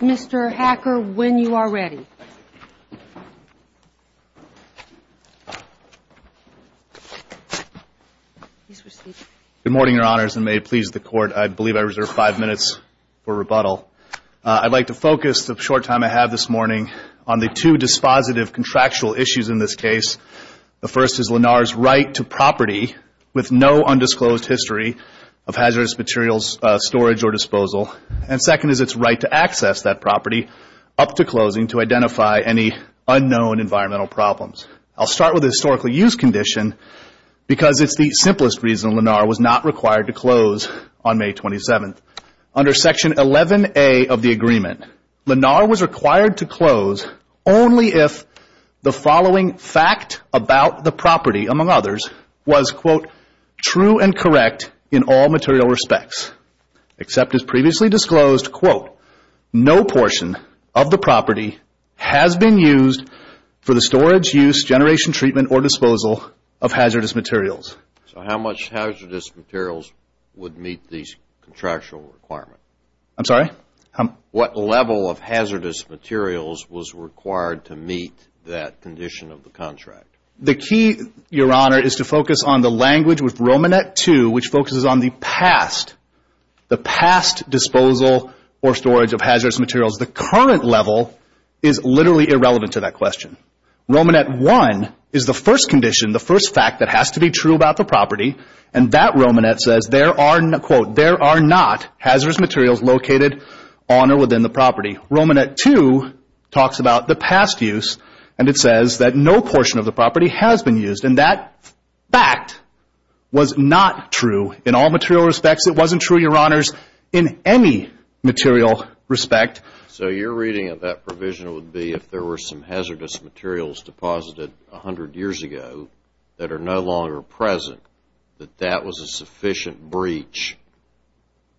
Mr. Hacker, when you are ready. Good morning, Your Honors, and may it please the Court, I believe I reserve five minutes for rebuttal. I'd like to focus the short time I have this morning on the two dispositive contractual issues in this case. The first is Lenar's right to property with no undisclosed history of hazardous materials storage or disposal. And second is its right to access that property up to closing to identify any unknown environmental problems. I'll start with the historically used condition because it's the simplest reason Lenar was not required to close on May 27th. Under Section 11A of the agreement, Lenar was required to close only if the following fact about the property, among others, was, quote, true and correct in all material respects, except as previously disclosed, quote, no portion of the property has been used for the storage, use, generation, treatment, or disposal of hazardous materials. So how much hazardous materials would meet these contractual requirements? I'm sorry? What level of hazardous materials was required to meet that condition of the contract? The key, Your Honor, is to focus on the language with Romanet 2, which focuses on the past, the past disposal or storage of hazardous materials. The current level is literally irrelevant to that question. Romanet 1 is the first condition, the first fact that has to be true about the property, and that Romanet says there are, quote, there are not hazardous materials located on or within the property. Romanet 2 talks about the past use, and it says that no portion of the property has been used, and that fact was not true in all material respects. It wasn't true, Your Honors, in any material respect. So your reading of that provision would be if there were some hazardous materials deposited 100 years ago that are no longer present, that that was a sufficient breach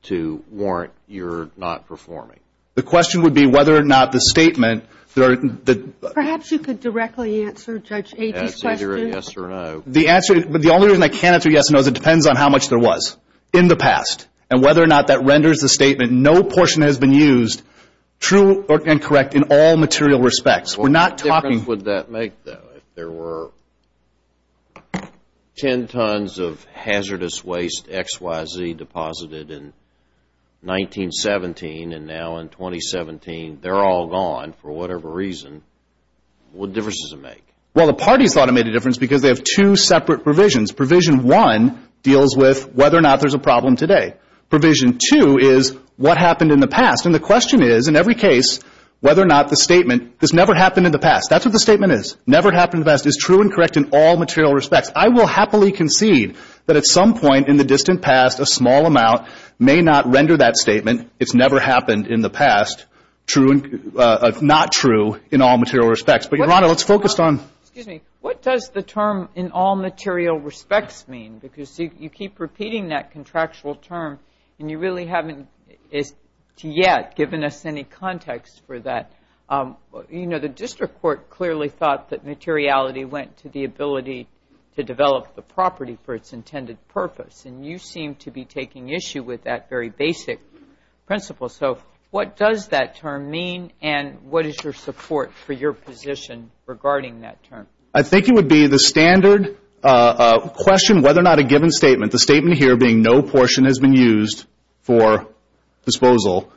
to warrant your not performing? The question would be whether or not the statement that are the – Perhaps you could directly answer Judge Agee's question. Yes or no. The answer – the only reason I can't answer yes or no is it depends on how much there was in the past and whether or not that renders the statement no portion has been used true and correct in all material respects. We're not talking – What difference would that make, though, if there were 10 tons of hazardous waste XYZ deposited in 1917 and now in 2017 they're all gone for whatever reason, what difference does it make? Well, the parties thought it made a difference because they have two separate provisions. Provision 1 deals with whether or not there's a problem today. Provision 2 is what happened in the past. And the question is, in every case, whether or not the statement, this never happened in the past. That's what the statement is. Never happened in the past is true and correct in all material respects. I will happily concede that at some point in the distant past, a small amount may not render that statement. It's never happened in the past, not true in all material respects. But, Your Honor, let's focus on – Excuse me. What does the term in all material respects mean? Because you keep repeating that contractual term and you really haven't yet given us any context for that. You know, the district court clearly thought that materiality went to the ability to develop the property for its intended purpose. And you seem to be taking issue with that very basic principle. So what does that term mean and what is your support for your position regarding that term? I think it would be the standard question whether or not a given statement, the statement here being no portion has been used for disposal,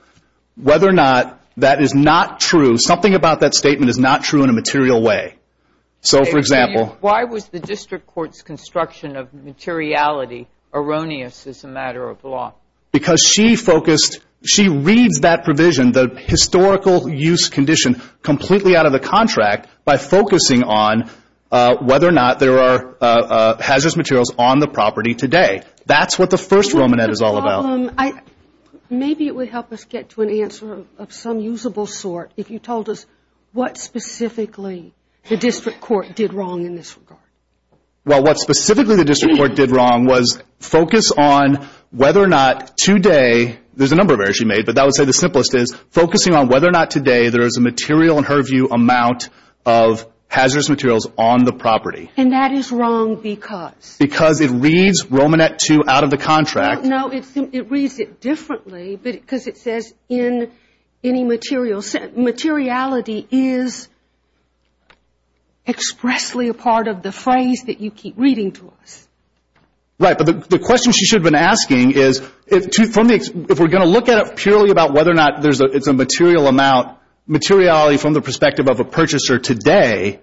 whether or not that is not true. Something about that statement is not true in a material way. So, for example – Why was the district court's construction of materiality erroneous as a matter of law? Because she focused – she reads that provision, the historical use condition, completely out of the contract by focusing on whether or not there are hazardous materials on the property today. That's what the first Romanette is all about. Maybe it would help us get to an answer of some usable sort if you told us what specifically the district court did wrong in this regard. Well, what specifically the district court did wrong was focus on whether or not today – there's a number of errors she made, but I would say the simplest is focusing on whether or not today there is a material, in her view, amount of hazardous materials on the property. And that is wrong because? Because it reads Romanette 2 out of the contract. No, it reads it differently because it says in any material – materiality is expressly a part of the phrase that you keep reading to us. Right. But the question she should have been asking is if we're going to look at it purely about whether or not it's a material amount, materiality from the perspective of a purchaser today,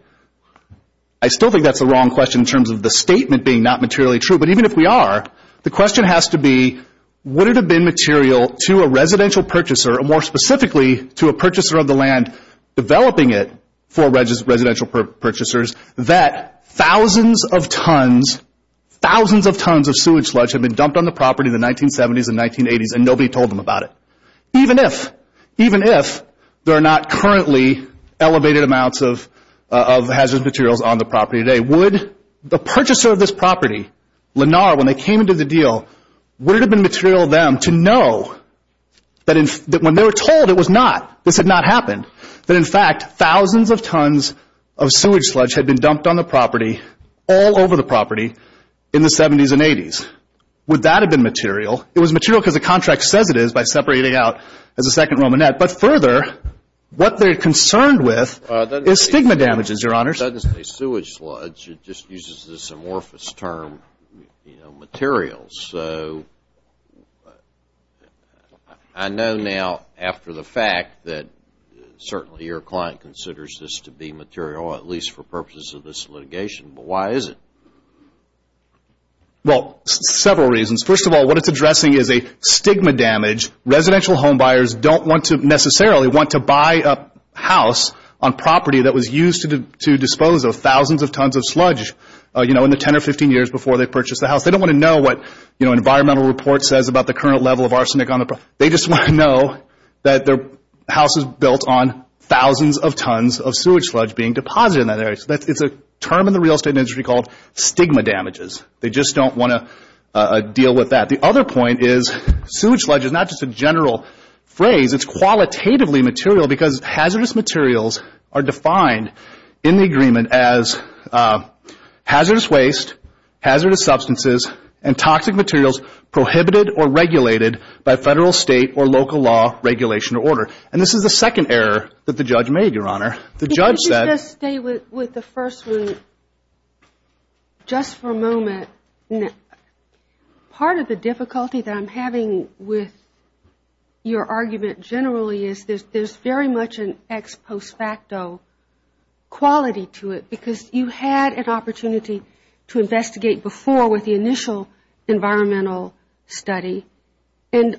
I still think that's the wrong question in terms of the statement being not materially true. But even if we are, the question has to be would it have been material to a residential purchaser, or more specifically to a purchaser of the land developing it for residential purchasers, that thousands of tons, thousands of tons of sewage sludge had been dumped on the property in the 1970s and 1980s and nobody told them about it. Even if, even if there are not currently elevated amounts of hazardous materials on the property today, would the purchaser of this property, Lenar, when they came into the deal, would it have been material to them to know that when they were told it was not, this had not happened, that in fact thousands of tons of sewage sludge had been dumped on the property all over the property in the 1970s and 1980s. Would that have been material? It was material because the contract says it is by separating it out as a second Romanette. But further, what they're concerned with is stigma damages, Your Honors. It doesn't say sewage sludge. It just uses this amorphous term, you know, materials. So I know now after the fact that certainly your client considers this to be material, at least for purposes of this litigation, but why is it? Well, several reasons. First of all, what it's addressing is a stigma damage. Residential home buyers don't want to necessarily want to buy a house on property that was used to dispose of thousands of tons of sludge, you know, in the 10 or 15 years before they purchased the house. They don't want to know what, you know, an environmental report says about the current level of arsenic on the property. They just want to know that their house is built on thousands of tons of sewage sludge being deposited in that area. It's a term in the real estate industry called stigma damages. They just don't want to deal with that. The other point is sewage sludge is not just a general phrase. It's qualitatively material because hazardous materials are defined in the agreement as hazardous waste, hazardous substances, and toxic materials prohibited or regulated by Federal, State, or local law, regulation, or order. And this is the second error that the judge made, Your Honor. Let me just stay with the first one just for a moment. Part of the difficulty that I'm having with your argument generally is there's very much an ex post facto quality to it because you had an opportunity to investigate before with the initial environmental study, and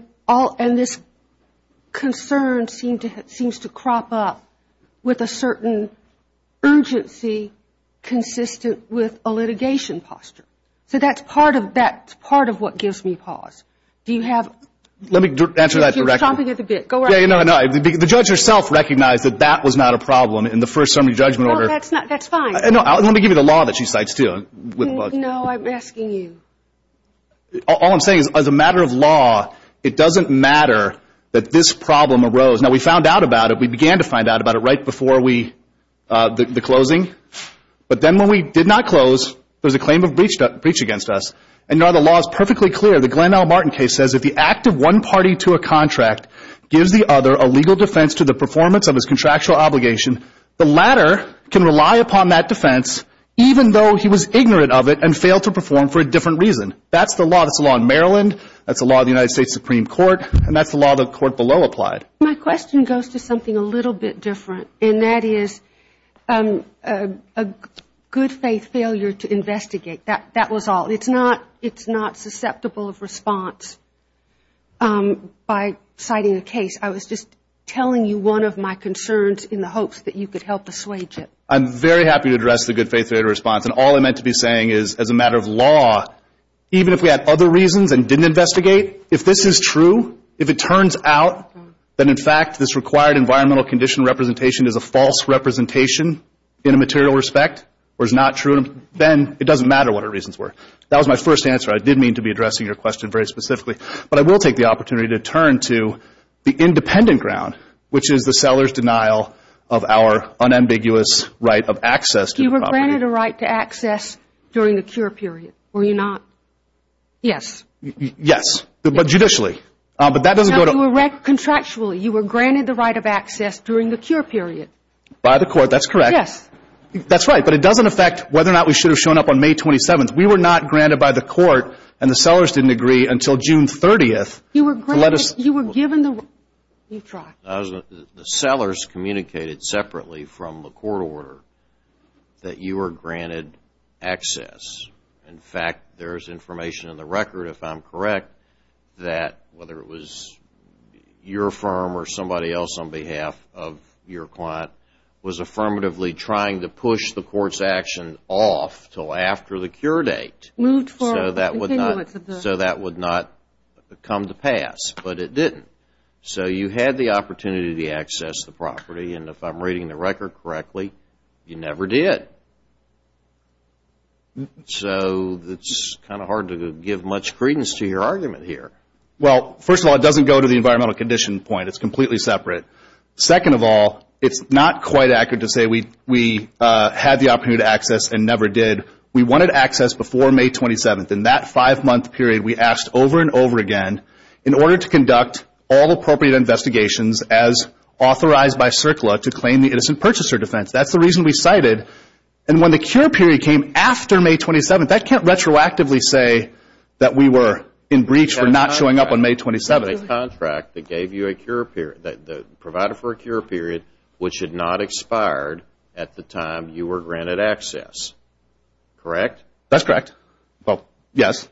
this concern seems to crop up with a certain urgency consistent with a litigation posture. So that's part of what gives me pause. Do you have? Let me answer that directly. You're chomping at the bit. Go right ahead. The judge herself recognized that that was not a problem in the first summary judgment order. That's fine. Let me give you the law that she cites too. No, I'm asking you. All I'm saying is as a matter of law, it doesn't matter that this problem arose. Now, we found out about it. We began to find out about it right before the closing. But then when we did not close, there was a claim of breach against us. And now the law is perfectly clear. The Glenn L. Martin case says if the act of one party to a contract gives the other a legal defense to the performance of his contractual obligation, the latter can rely upon that defense even though he was ignorant of it and failed to perform for a different reason. That's the law. That's the law in Maryland. That's the law in the United States Supreme Court. And that's the law the court below applied. My question goes to something a little bit different, and that is a good faith failure to investigate. That was all. It's not susceptible of response by citing a case. I was just telling you one of my concerns in the hopes that you could help assuage it. I'm very happy to address the good faith failure response. And all I meant to be saying is as a matter of law, even if we had other reasons and didn't investigate, if this is true, if it turns out that in fact this required environmental condition representation is a false representation in a material respect or is not true, then it doesn't matter what our reasons were. That was my first answer. I did mean to be addressing your question very specifically. But I will take the opportunity to turn to the independent ground, which is the seller's denial of our unambiguous right of access to the property. You were granted a right to access during the cure period, were you not? Yes. Yes, but judicially. No, contractually. You were granted the right of access during the cure period. By the court, that's correct. Yes. That's right, but it doesn't affect whether or not we should have shown up on May 27th. We were not granted by the court, and the sellers didn't agree until June 30th. You were given the right. The sellers communicated separately from the court order that you were granted access. In fact, there is information in the record, if I'm correct, that whether it was your firm or somebody else on behalf of your client, was affirmatively trying to push the court's action off until after the cure date. Moved from the continuance of the. So that would not come to pass, but it didn't. So you had the opportunity to access the property, and if I'm reading the record correctly, you never did. So it's kind of hard to give much credence to your argument here. Well, first of all, it doesn't go to the environmental condition point. It's completely separate. Second of all, it's not quite accurate to say we had the opportunity to access and never did. We wanted access before May 27th. In that five-month period, we asked over and over again, in order to conduct all appropriate investigations as authorized by CERCLA to claim the innocent purchaser defense. That's the reason we cited. And when the cure period came after May 27th, that can't retroactively say that we were in breach for not showing up on May 27th. A contract that gave you a cure period, provided for a cure period, which had not expired at the time you were granted access. Correct? That's correct. Well, yes.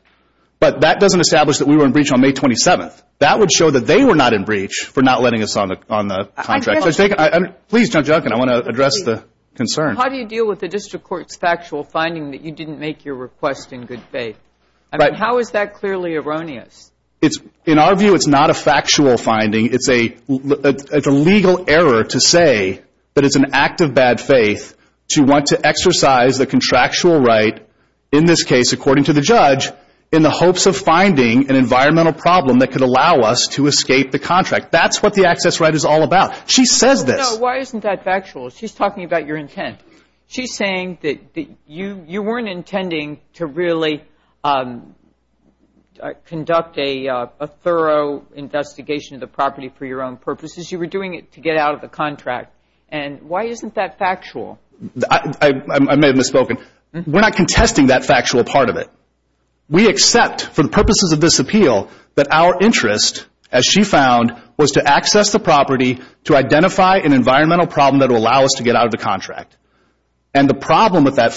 But that doesn't establish that we were in breach on May 27th. That would show that they were not in breach for not letting us on the contract. Please, Judge Elkin, I want to address the concern. How do you deal with the district court's factual finding that you didn't make your request in good faith? I mean, how is that clearly erroneous? In our view, it's not a factual finding. It's a legal error to say that it's an act of bad faith to want to exercise the contractual right, in this case, according to the judge, in the hopes of finding an environmental problem that could allow us to escape the contract. That's what the access right is all about. She says this. No, why isn't that factual? She's talking about your intent. She's saying that you weren't intending to really conduct a thorough investigation of the property for your own purposes. You were doing it to get out of the contract. And why isn't that factual? I may have misspoken. We're not contesting that factual part of it. We accept, for the purposes of this appeal, that our interest, as she found, was to access the property to identify an environmental problem that would allow us to get out of the contract. And the problem with that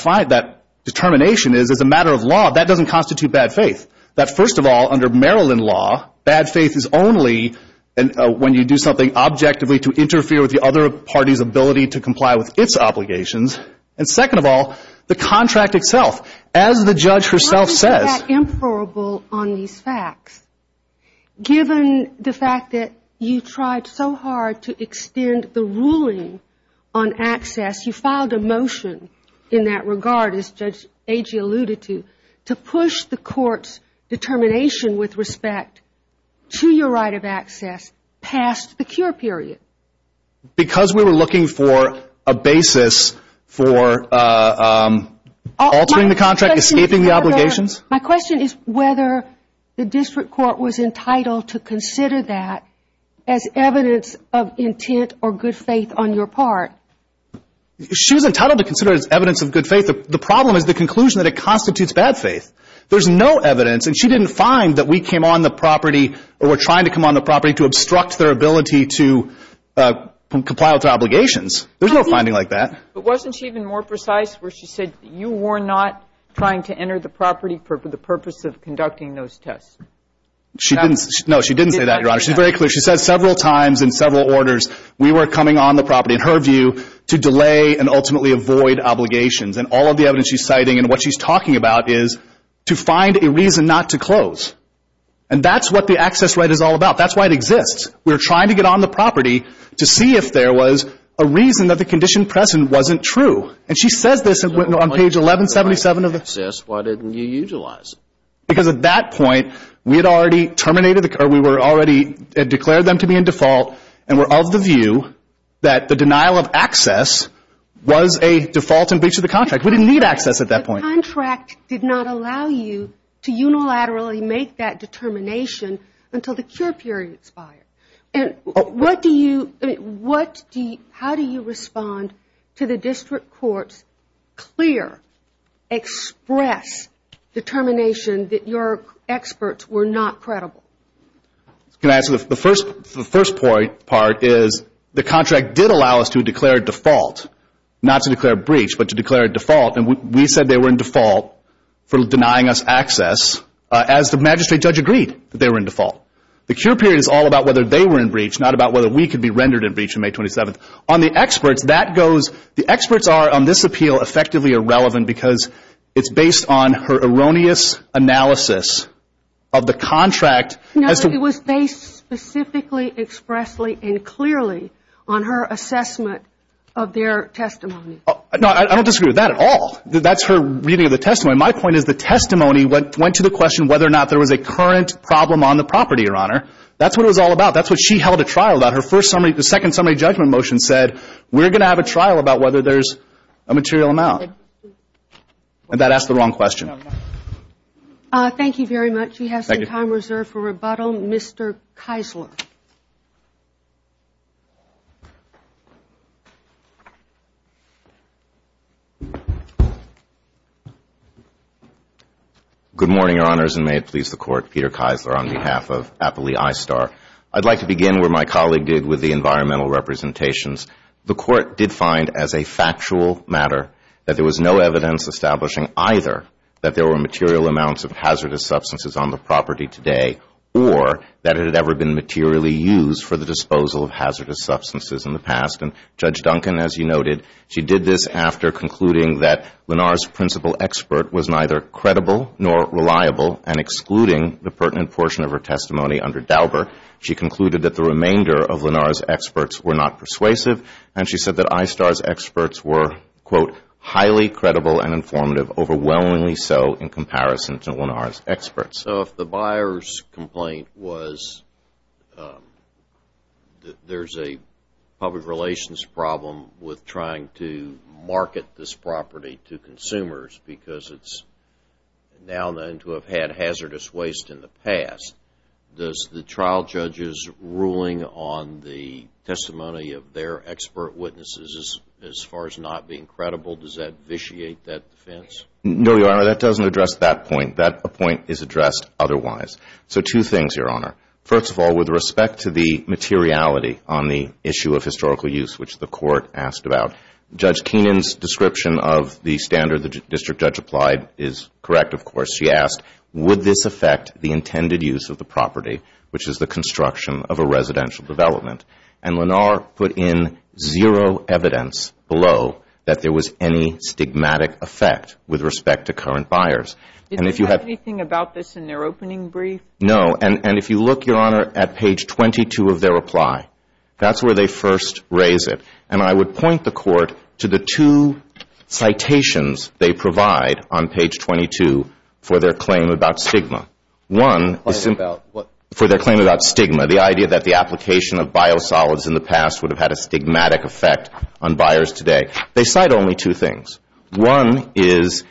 determination is, as a matter of law, that doesn't constitute bad faith. That, first of all, under Maryland law, bad faith is only when you do something objectively to interfere with the other party's ability to comply with its obligations. And, second of all, the contract itself. As the judge herself says. Why is that inferable on these facts? Given the fact that you tried so hard to extend the ruling on access, you filed a motion in that regard, as Judge Agee alluded to, to push the court's determination with respect to your right of access past the cure period. Because we were looking for a basis for altering the contract, escaping the obligations. My question is whether the district court was entitled to consider that as evidence of intent or good faith on your part. She was entitled to consider it as evidence of good faith. The problem is the conclusion that it constitutes bad faith. There's no evidence. And she didn't find that we came on the property or were trying to come on the property to obstruct their ability to comply with their obligations. There's no finding like that. But wasn't she even more precise where she said you were not trying to enter the property for the purpose of conducting those tests? No, she didn't say that, Your Honor. She's very clear. She said several times in several orders we were coming on the property, in her view, to delay and ultimately avoid obligations. And all of the evidence she's citing and what she's talking about is to find a reason not to close. And that's what the access right is all about. That's why it exists. We're trying to get on the property to see if there was a reason that the condition present wasn't true. And she says this on page 1177 of the… Why didn't you utilize it? Because at that point we had already declared them to be in default and were of the view that the denial of access was a default in breach of the contract. We didn't need access at that point. The contract did not allow you to unilaterally make that determination until the cure period expired. How do you respond to the district court's clear, express determination that your experts were not credible? The first part is the contract did allow us to declare default, not to declare breach, but to declare default. And we said they were in default for denying us access as the magistrate judge agreed that they were in default. The cure period is all about whether they were in breach, not about whether we could be rendered in breach on May 27th. On the experts, that goes, the experts are on this appeal effectively irrelevant because it's based on her erroneous analysis of the contract. No, it was based specifically, expressly, and clearly on her assessment of their testimony. No, I don't disagree with that at all. That's her reading of the testimony. My point is the testimony went to the question whether or not there was a current problem on the property, Your Honor. That's what it was all about. That's what she held a trial about. The second summary judgment motion said we're going to have a trial about whether there's a material amount. And that asked the wrong question. Thank you very much. We have some time reserved for rebuttal. Mr. Keisler. Good morning, Your Honors, and may it please the Court. Peter Keisler on behalf of Appley I-Star. I'd like to begin where my colleague did with the environmental representations. The Court did find as a factual matter that there was no evidence establishing either that there were material amounts of hazardous substances on the property today or that it had ever been materially used for the disposal of hazardous substances in the past. And Judge Duncan, as you noted, she did this after concluding that Lenar's principal expert was neither credible nor reliable and excluding the pertinent portion of her testimony under Dauber. She concluded that the remainder of Lenar's experts were not persuasive, and she said that I-Star's experts were, quote, highly credible and informative, overwhelmingly so in comparison to Lenar's experts. So if the buyer's complaint was that there's a public relations problem with trying to market this property to consumers because it's now known to have had hazardous waste in the past, does the trial judge's ruling on the testimony of their expert witnesses as far as not being credible, does that vitiate that defense? No, Your Honor. That doesn't address that point. That point is addressed otherwise. So two things, Your Honor. First of all, with respect to the materiality on the issue of historical use, which the Court asked about, Judge Keenan's description of the standard the district judge applied is correct, of course. She asked, would this affect the intended use of the property, which is the construction of a residential development? And Lenar put in zero evidence below that there was any stigmatic effect with respect to current buyers. Did they have anything about this in their opening brief? And if you look, Your Honor, at page 22 of their reply, that's where they first raise it. And I would point the Court to the two citations they provide on page 22 for their claim about stigma. One is for their claim about stigma, the idea that the application of biosolids in the past would have had a stigmatic effect on buyers today. They cite only two things. One is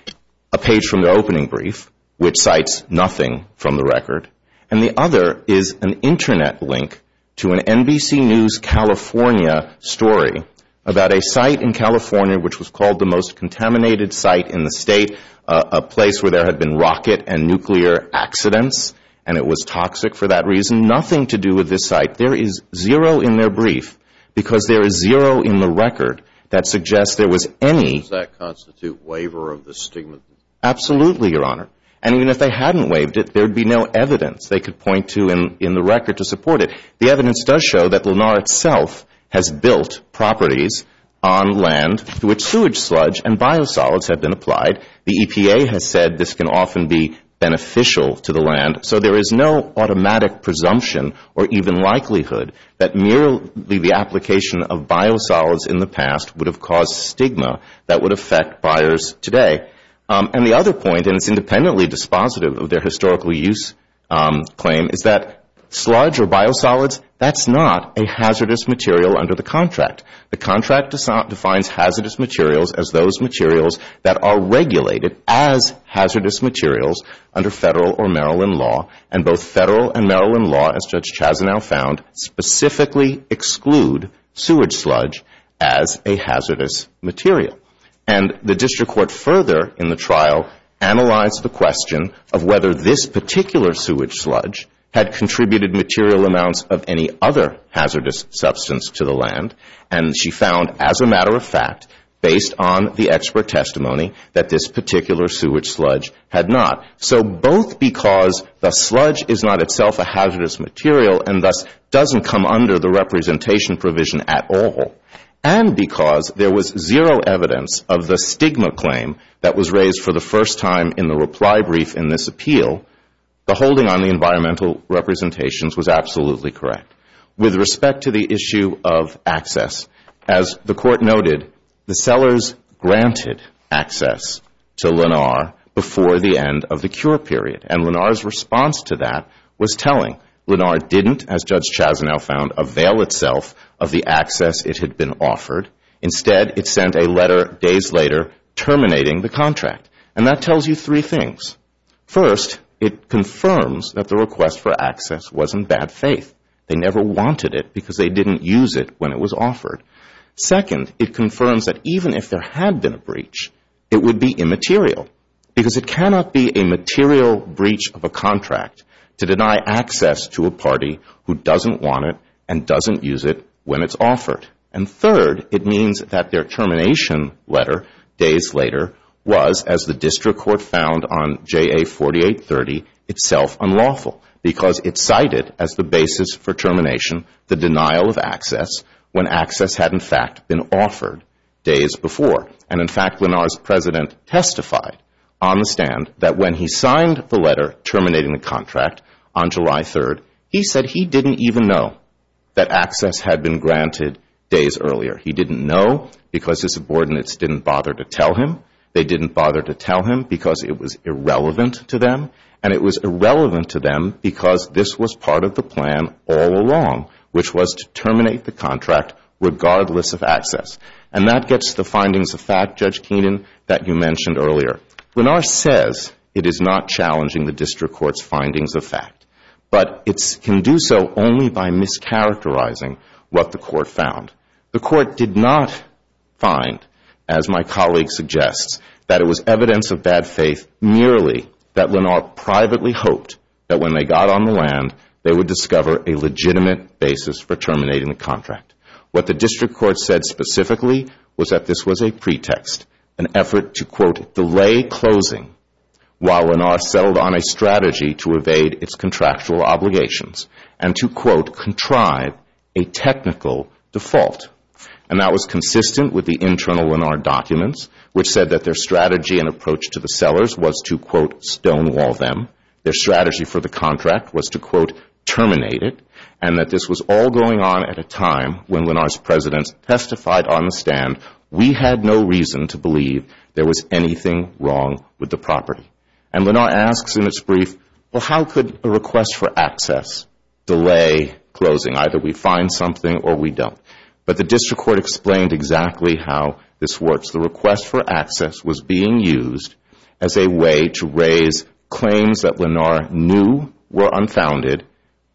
a page from their opening brief, which cites nothing from the record. And the other is an Internet link to an NBC News California story about a site in California, which was called the most contaminated site in the state, a place where there had been rocket and nuclear accidents, and it was toxic for that reason. Nothing to do with this site. There is zero in their brief because there is zero in the record that suggests there was any. Does that constitute waiver of the stigma? Absolutely, Your Honor. And even if they hadn't waived it, there would be no evidence they could point to in the record to support it. The evidence does show that Lenar itself has built properties on land through a sewage sludge and biosolids have been applied. The EPA has said this can often be beneficial to the land. So there is no automatic presumption or even likelihood that merely the application of biosolids in the past would have caused stigma that would affect buyers today. And the other point, and it's independently dispositive of their historical use claim, is that sludge or biosolids, that's not a hazardous material under the contract. The contract defines hazardous materials as those materials that are regulated as hazardous materials under federal or Maryland law, and both federal and Maryland law, as Judge Chazanow found, specifically exclude sewage sludge as a hazardous material. And the district court further in the trial analyzed the question of whether this particular sewage sludge had contributed material amounts of any other hazardous substance to the land. And she found, as a matter of fact, based on the expert testimony, that this particular sewage sludge had not. So both because the sludge is not itself a hazardous material and thus doesn't come under the representation provision at all, and because there was zero evidence of the stigma claim that was raised for the first time in the reply brief in this appeal, the holding on the environmental representations was absolutely correct. With respect to the issue of access, as the court noted, the sellers granted access to Lenar before the end of the cure period. And Lenar's response to that was telling. Lenar didn't, as Judge Chazanow found, avail itself of the access it had been offered. Instead, it sent a letter days later terminating the contract. And that tells you three things. First, it confirms that the request for access was in bad faith. They never wanted it because they didn't use it when it was offered. Second, it confirms that even if there had been a breach, it would be immaterial, because it cannot be a material breach of a contract to deny access to a party who doesn't want it and doesn't use it when it's offered. And third, it means that their termination letter days later was, as the district court found on JA4830, itself unlawful, because it cited as the basis for termination the denial of access when access had, in fact, been offered days before. And, in fact, Lenar's president testified on the stand that when he signed the letter terminating the contract on July 3rd, he said he didn't even know that access had been granted days earlier. He didn't know because his subordinates didn't bother to tell him. They didn't bother to tell him because it was irrelevant to them. And it was irrelevant to them because this was part of the plan all along, which was to terminate the contract regardless of access. And that gets to the findings of fact, Judge Keenan, that you mentioned earlier. Lenar says it is not challenging the district court's findings of fact, but it can do so only by mischaracterizing what the court found. The court did not find, as my colleague suggests, that it was evidence of bad faith, merely that Lenar privately hoped that when they got on the land, they would discover a legitimate basis for terminating the contract. What the district court said specifically was that this was a pretext, an effort to, quote, delay closing while Lenar settled on a strategy to evade its contractual obligations and to, quote, contrive a technical default. And that was consistent with the internal Lenar documents, which said that their strategy and approach to the sellers was to, quote, stonewall them. Their strategy for the contract was to, quote, terminate it. And that this was all going on at a time when Lenar's presidents testified on the stand, we had no reason to believe there was anything wrong with the property. And Lenar asks in its brief, well, how could a request for access delay closing? Either we find something or we don't. But the district court explained exactly how this works. The request for access was being used as a way to raise claims that Lenar knew were unfounded,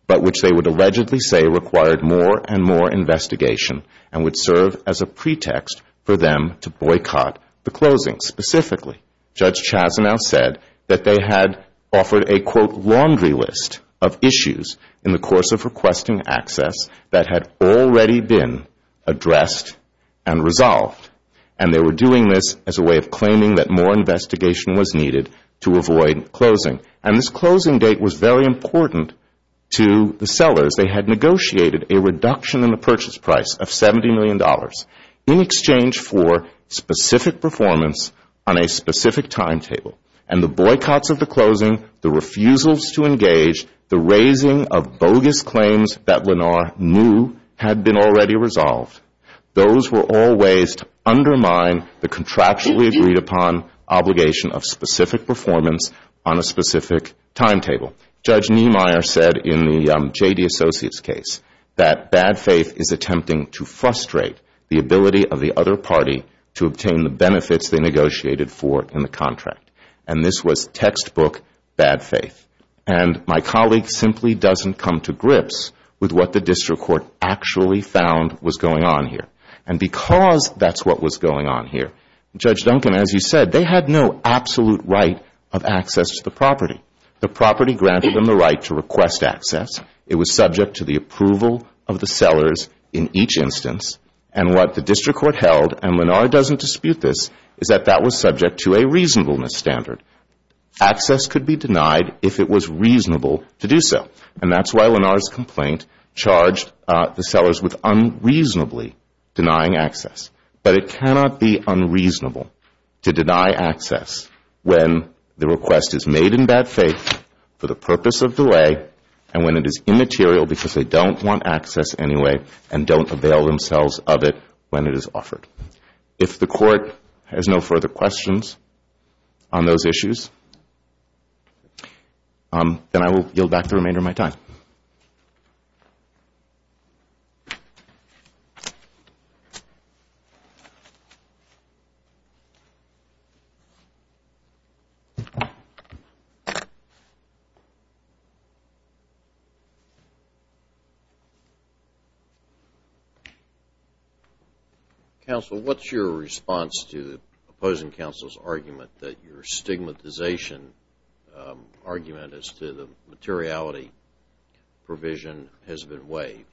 but which they would allegedly say required more and more investigation and would serve as a pretext for them to boycott the closing. Specifically, Judge Chazenow said that they had offered a, quote, laundry list of issues in the course of requesting access that had already been addressed and resolved. And they were doing this as a way of claiming that more investigation was needed to avoid closing. And this closing date was very important to the sellers. They had negotiated a reduction in the purchase price of $70 million in exchange for specific performance on a specific timetable. And the boycotts of the closing, the refusals to engage, the raising of bogus claims that Lenar knew had been already resolved, those were all ways to undermine the contractually agreed upon obligation of specific performance on a specific timetable. Judge Niemeyer said in the J.D. Associates case that bad faith is attempting to frustrate the ability of the other party to obtain the benefits they negotiated for in the contract. And this was textbook bad faith. And my colleague simply doesn't come to grips with what the district court actually found was going on here. And because that's what was going on here, Judge Duncan, as you said, they had no absolute right of access to the property. The property granted them the right to request access. It was subject to the approval of the sellers in each instance. And what the district court held, and Lenar doesn't dispute this, is that that was subject to a reasonableness standard. Access could be denied if it was reasonable to do so. And that's why Lenar's complaint charged the sellers with unreasonably denying access. But it cannot be unreasonable to deny access when the request is made in bad faith for the purpose of delay and when it is immaterial because they don't want access anyway and don't avail themselves of it when it is offered. If the court has no further questions on those issues, then I will yield back the remainder of my time. Counsel, what's your response to opposing counsel's argument that your stigmatization argument as to the materiality provision has been waived?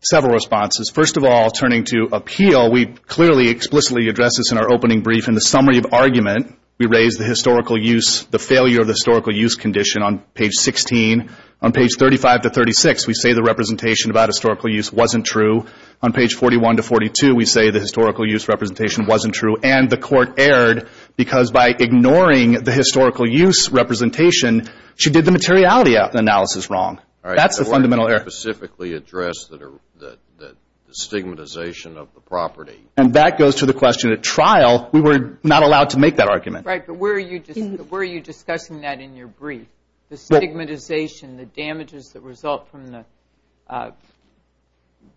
Several responses. First of all, turning to appeal, we clearly explicitly address this in our opening brief. In the summary of argument, we raise the historical use, the failure of the historical use condition on page 16. On page 35 to 36, we say the representation about historical use wasn't true. On page 41 to 42, we say the historical use representation wasn't true. And the court erred because by ignoring the historical use representation, she did the materiality analysis wrong. All right. That's the fundamental error. The court didn't specifically address the stigmatization of the property. And that goes to the question at trial, we were not allowed to make that argument. Right, but where are you discussing that in your brief? The stigmatization, the damages that result from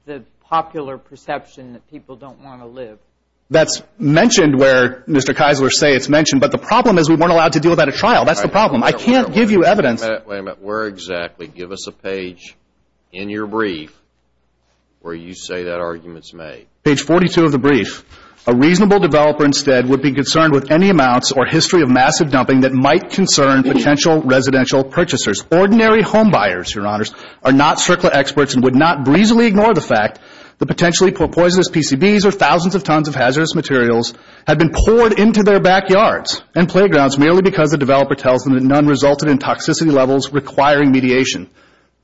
the popular perception that people don't want to live. That's mentioned where Mr. Keisler say it's mentioned. But the problem is we weren't allowed to deal with that at trial. That's the problem. I can't give you evidence. Wait a minute. Where exactly? Give us a page in your brief where you say that argument's made. Page 42 of the brief. A reasonable developer instead would be concerned with any amounts or history of massive dumping that might concern potential residential purchasers. Ordinary home buyers, Your Honors, are not CERCLA experts and would not breezily ignore the fact that potentially poisonous PCBs or thousands of tons of hazardous materials have been poured into their backyards and playgrounds merely because the developer tells them that none resulted in toxicity levels requiring mediation.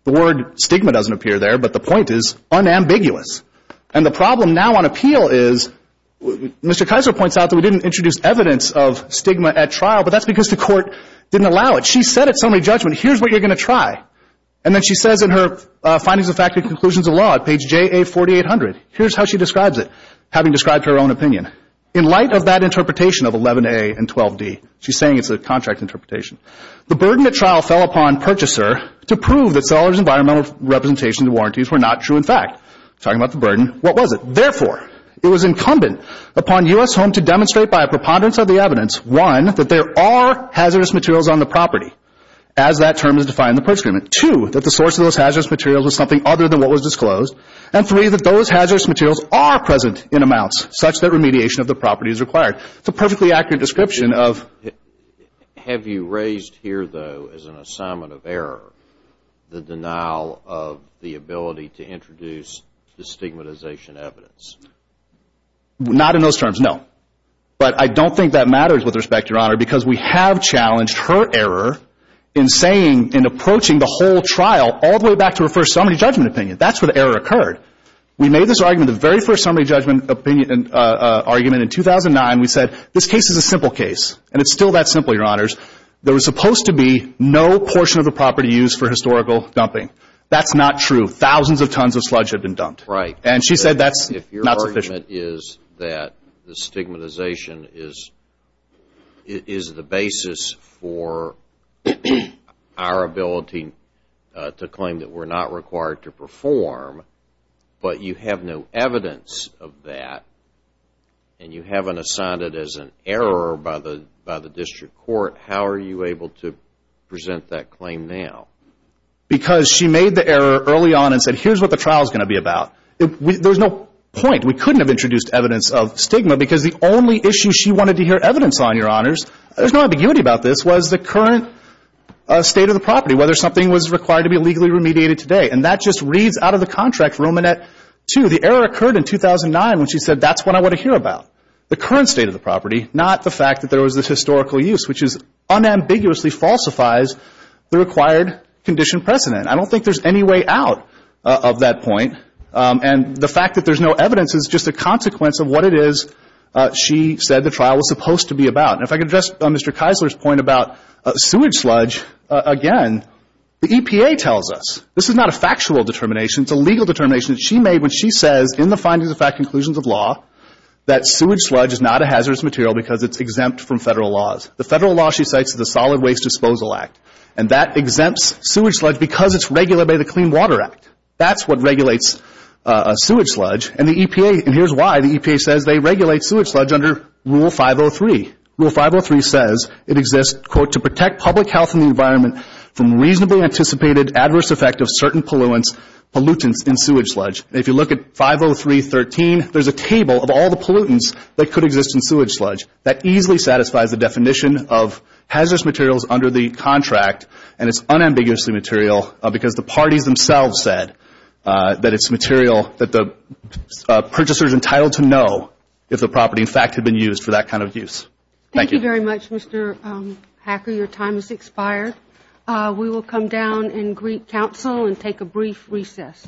The word stigma doesn't appear there, but the point is unambiguous. And the problem now on appeal is Mr. Keisler points out that we didn't introduce evidence of stigma at trial, but that's because the court didn't allow it. She said at summary judgment, here's what you're going to try. And then she says in her findings of fact and conclusions of law at page JA4800, here's how she describes it, having described her own opinion. In light of that interpretation of 11A and 12D, she's saying it's a contract interpretation, the burden at trial fell upon purchaser to prove that sellers' environmental representations and warranties were not true in fact. Talking about the burden, what was it? Therefore, it was incumbent upon U.S. Home to demonstrate by a preponderance of the evidence, one, that there are hazardous materials on the property as that term is defined in the purchase agreement, two, that the source of those hazardous materials was something other than what was disclosed, and three, that those hazardous materials are present in amounts such that remediation of the property is required. It's a perfectly accurate description of... Have you raised here, though, as an assignment of error, the denial of the ability to introduce the stigmatization evidence? Not in those terms, no. But I don't think that matters with respect, Your Honor, because we have challenged her error in saying and approaching the whole trial all the way back to her first summary judgment opinion. That's where the error occurred. We made this argument, the very first summary judgment argument in 2009. We said, this case is a simple case, and it's still that simple, Your Honors. There was supposed to be no portion of the property used for historical dumping. That's not true. Thousands of tons of sludge have been dumped. Right. And she said that's not sufficient. Her argument is that the stigmatization is the basis for our ability to claim that we're not required to perform, but you have no evidence of that, and you haven't assigned it as an error by the district court. How are you able to present that claim now? Because she made the error early on and said, here's what the trial is going to be about. There's no point. We couldn't have introduced evidence of stigma, because the only issue she wanted to hear evidence on, Your Honors, there's no ambiguity about this, was the current state of the property, whether something was required to be legally remediated today. And that just reads out of the contract, Romanet 2. The error occurred in 2009 when she said, that's what I want to hear about, the current state of the property, not the fact that there was this historical use, which unambiguously falsifies the required condition precedent. I don't think there's any way out of that point. And the fact that there's no evidence is just a consequence of what it is she said the trial was supposed to be about. And if I could address Mr. Keisler's point about sewage sludge again, the EPA tells us. This is not a factual determination. It's a legal determination that she made when she says in the findings of fact conclusions of law that sewage sludge is not a hazardous material because it's exempt from Federal laws. The Federal law, she cites, is the Solid Waste Disposal Act. And that exempts sewage sludge because it's regulated by the Clean Water Act. That's what regulates sewage sludge. And the EPA, and here's why, the EPA says they regulate sewage sludge under Rule 503. Rule 503 says it exists, quote, to protect public health and the environment from reasonably anticipated adverse effect of certain pollutants in sewage sludge. If you look at 503.13, there's a table of all the pollutants that could exist in sewage sludge. That easily satisfies the definition of hazardous materials under the contract, and it's unambiguously material because the parties themselves said that it's material that the purchaser is entitled to know if the property, in fact, had been used for that kind of use. Thank you. Thank you very much, Mr. Hacker. Your time has expired. We will come down and greet counsel and take a brief recess.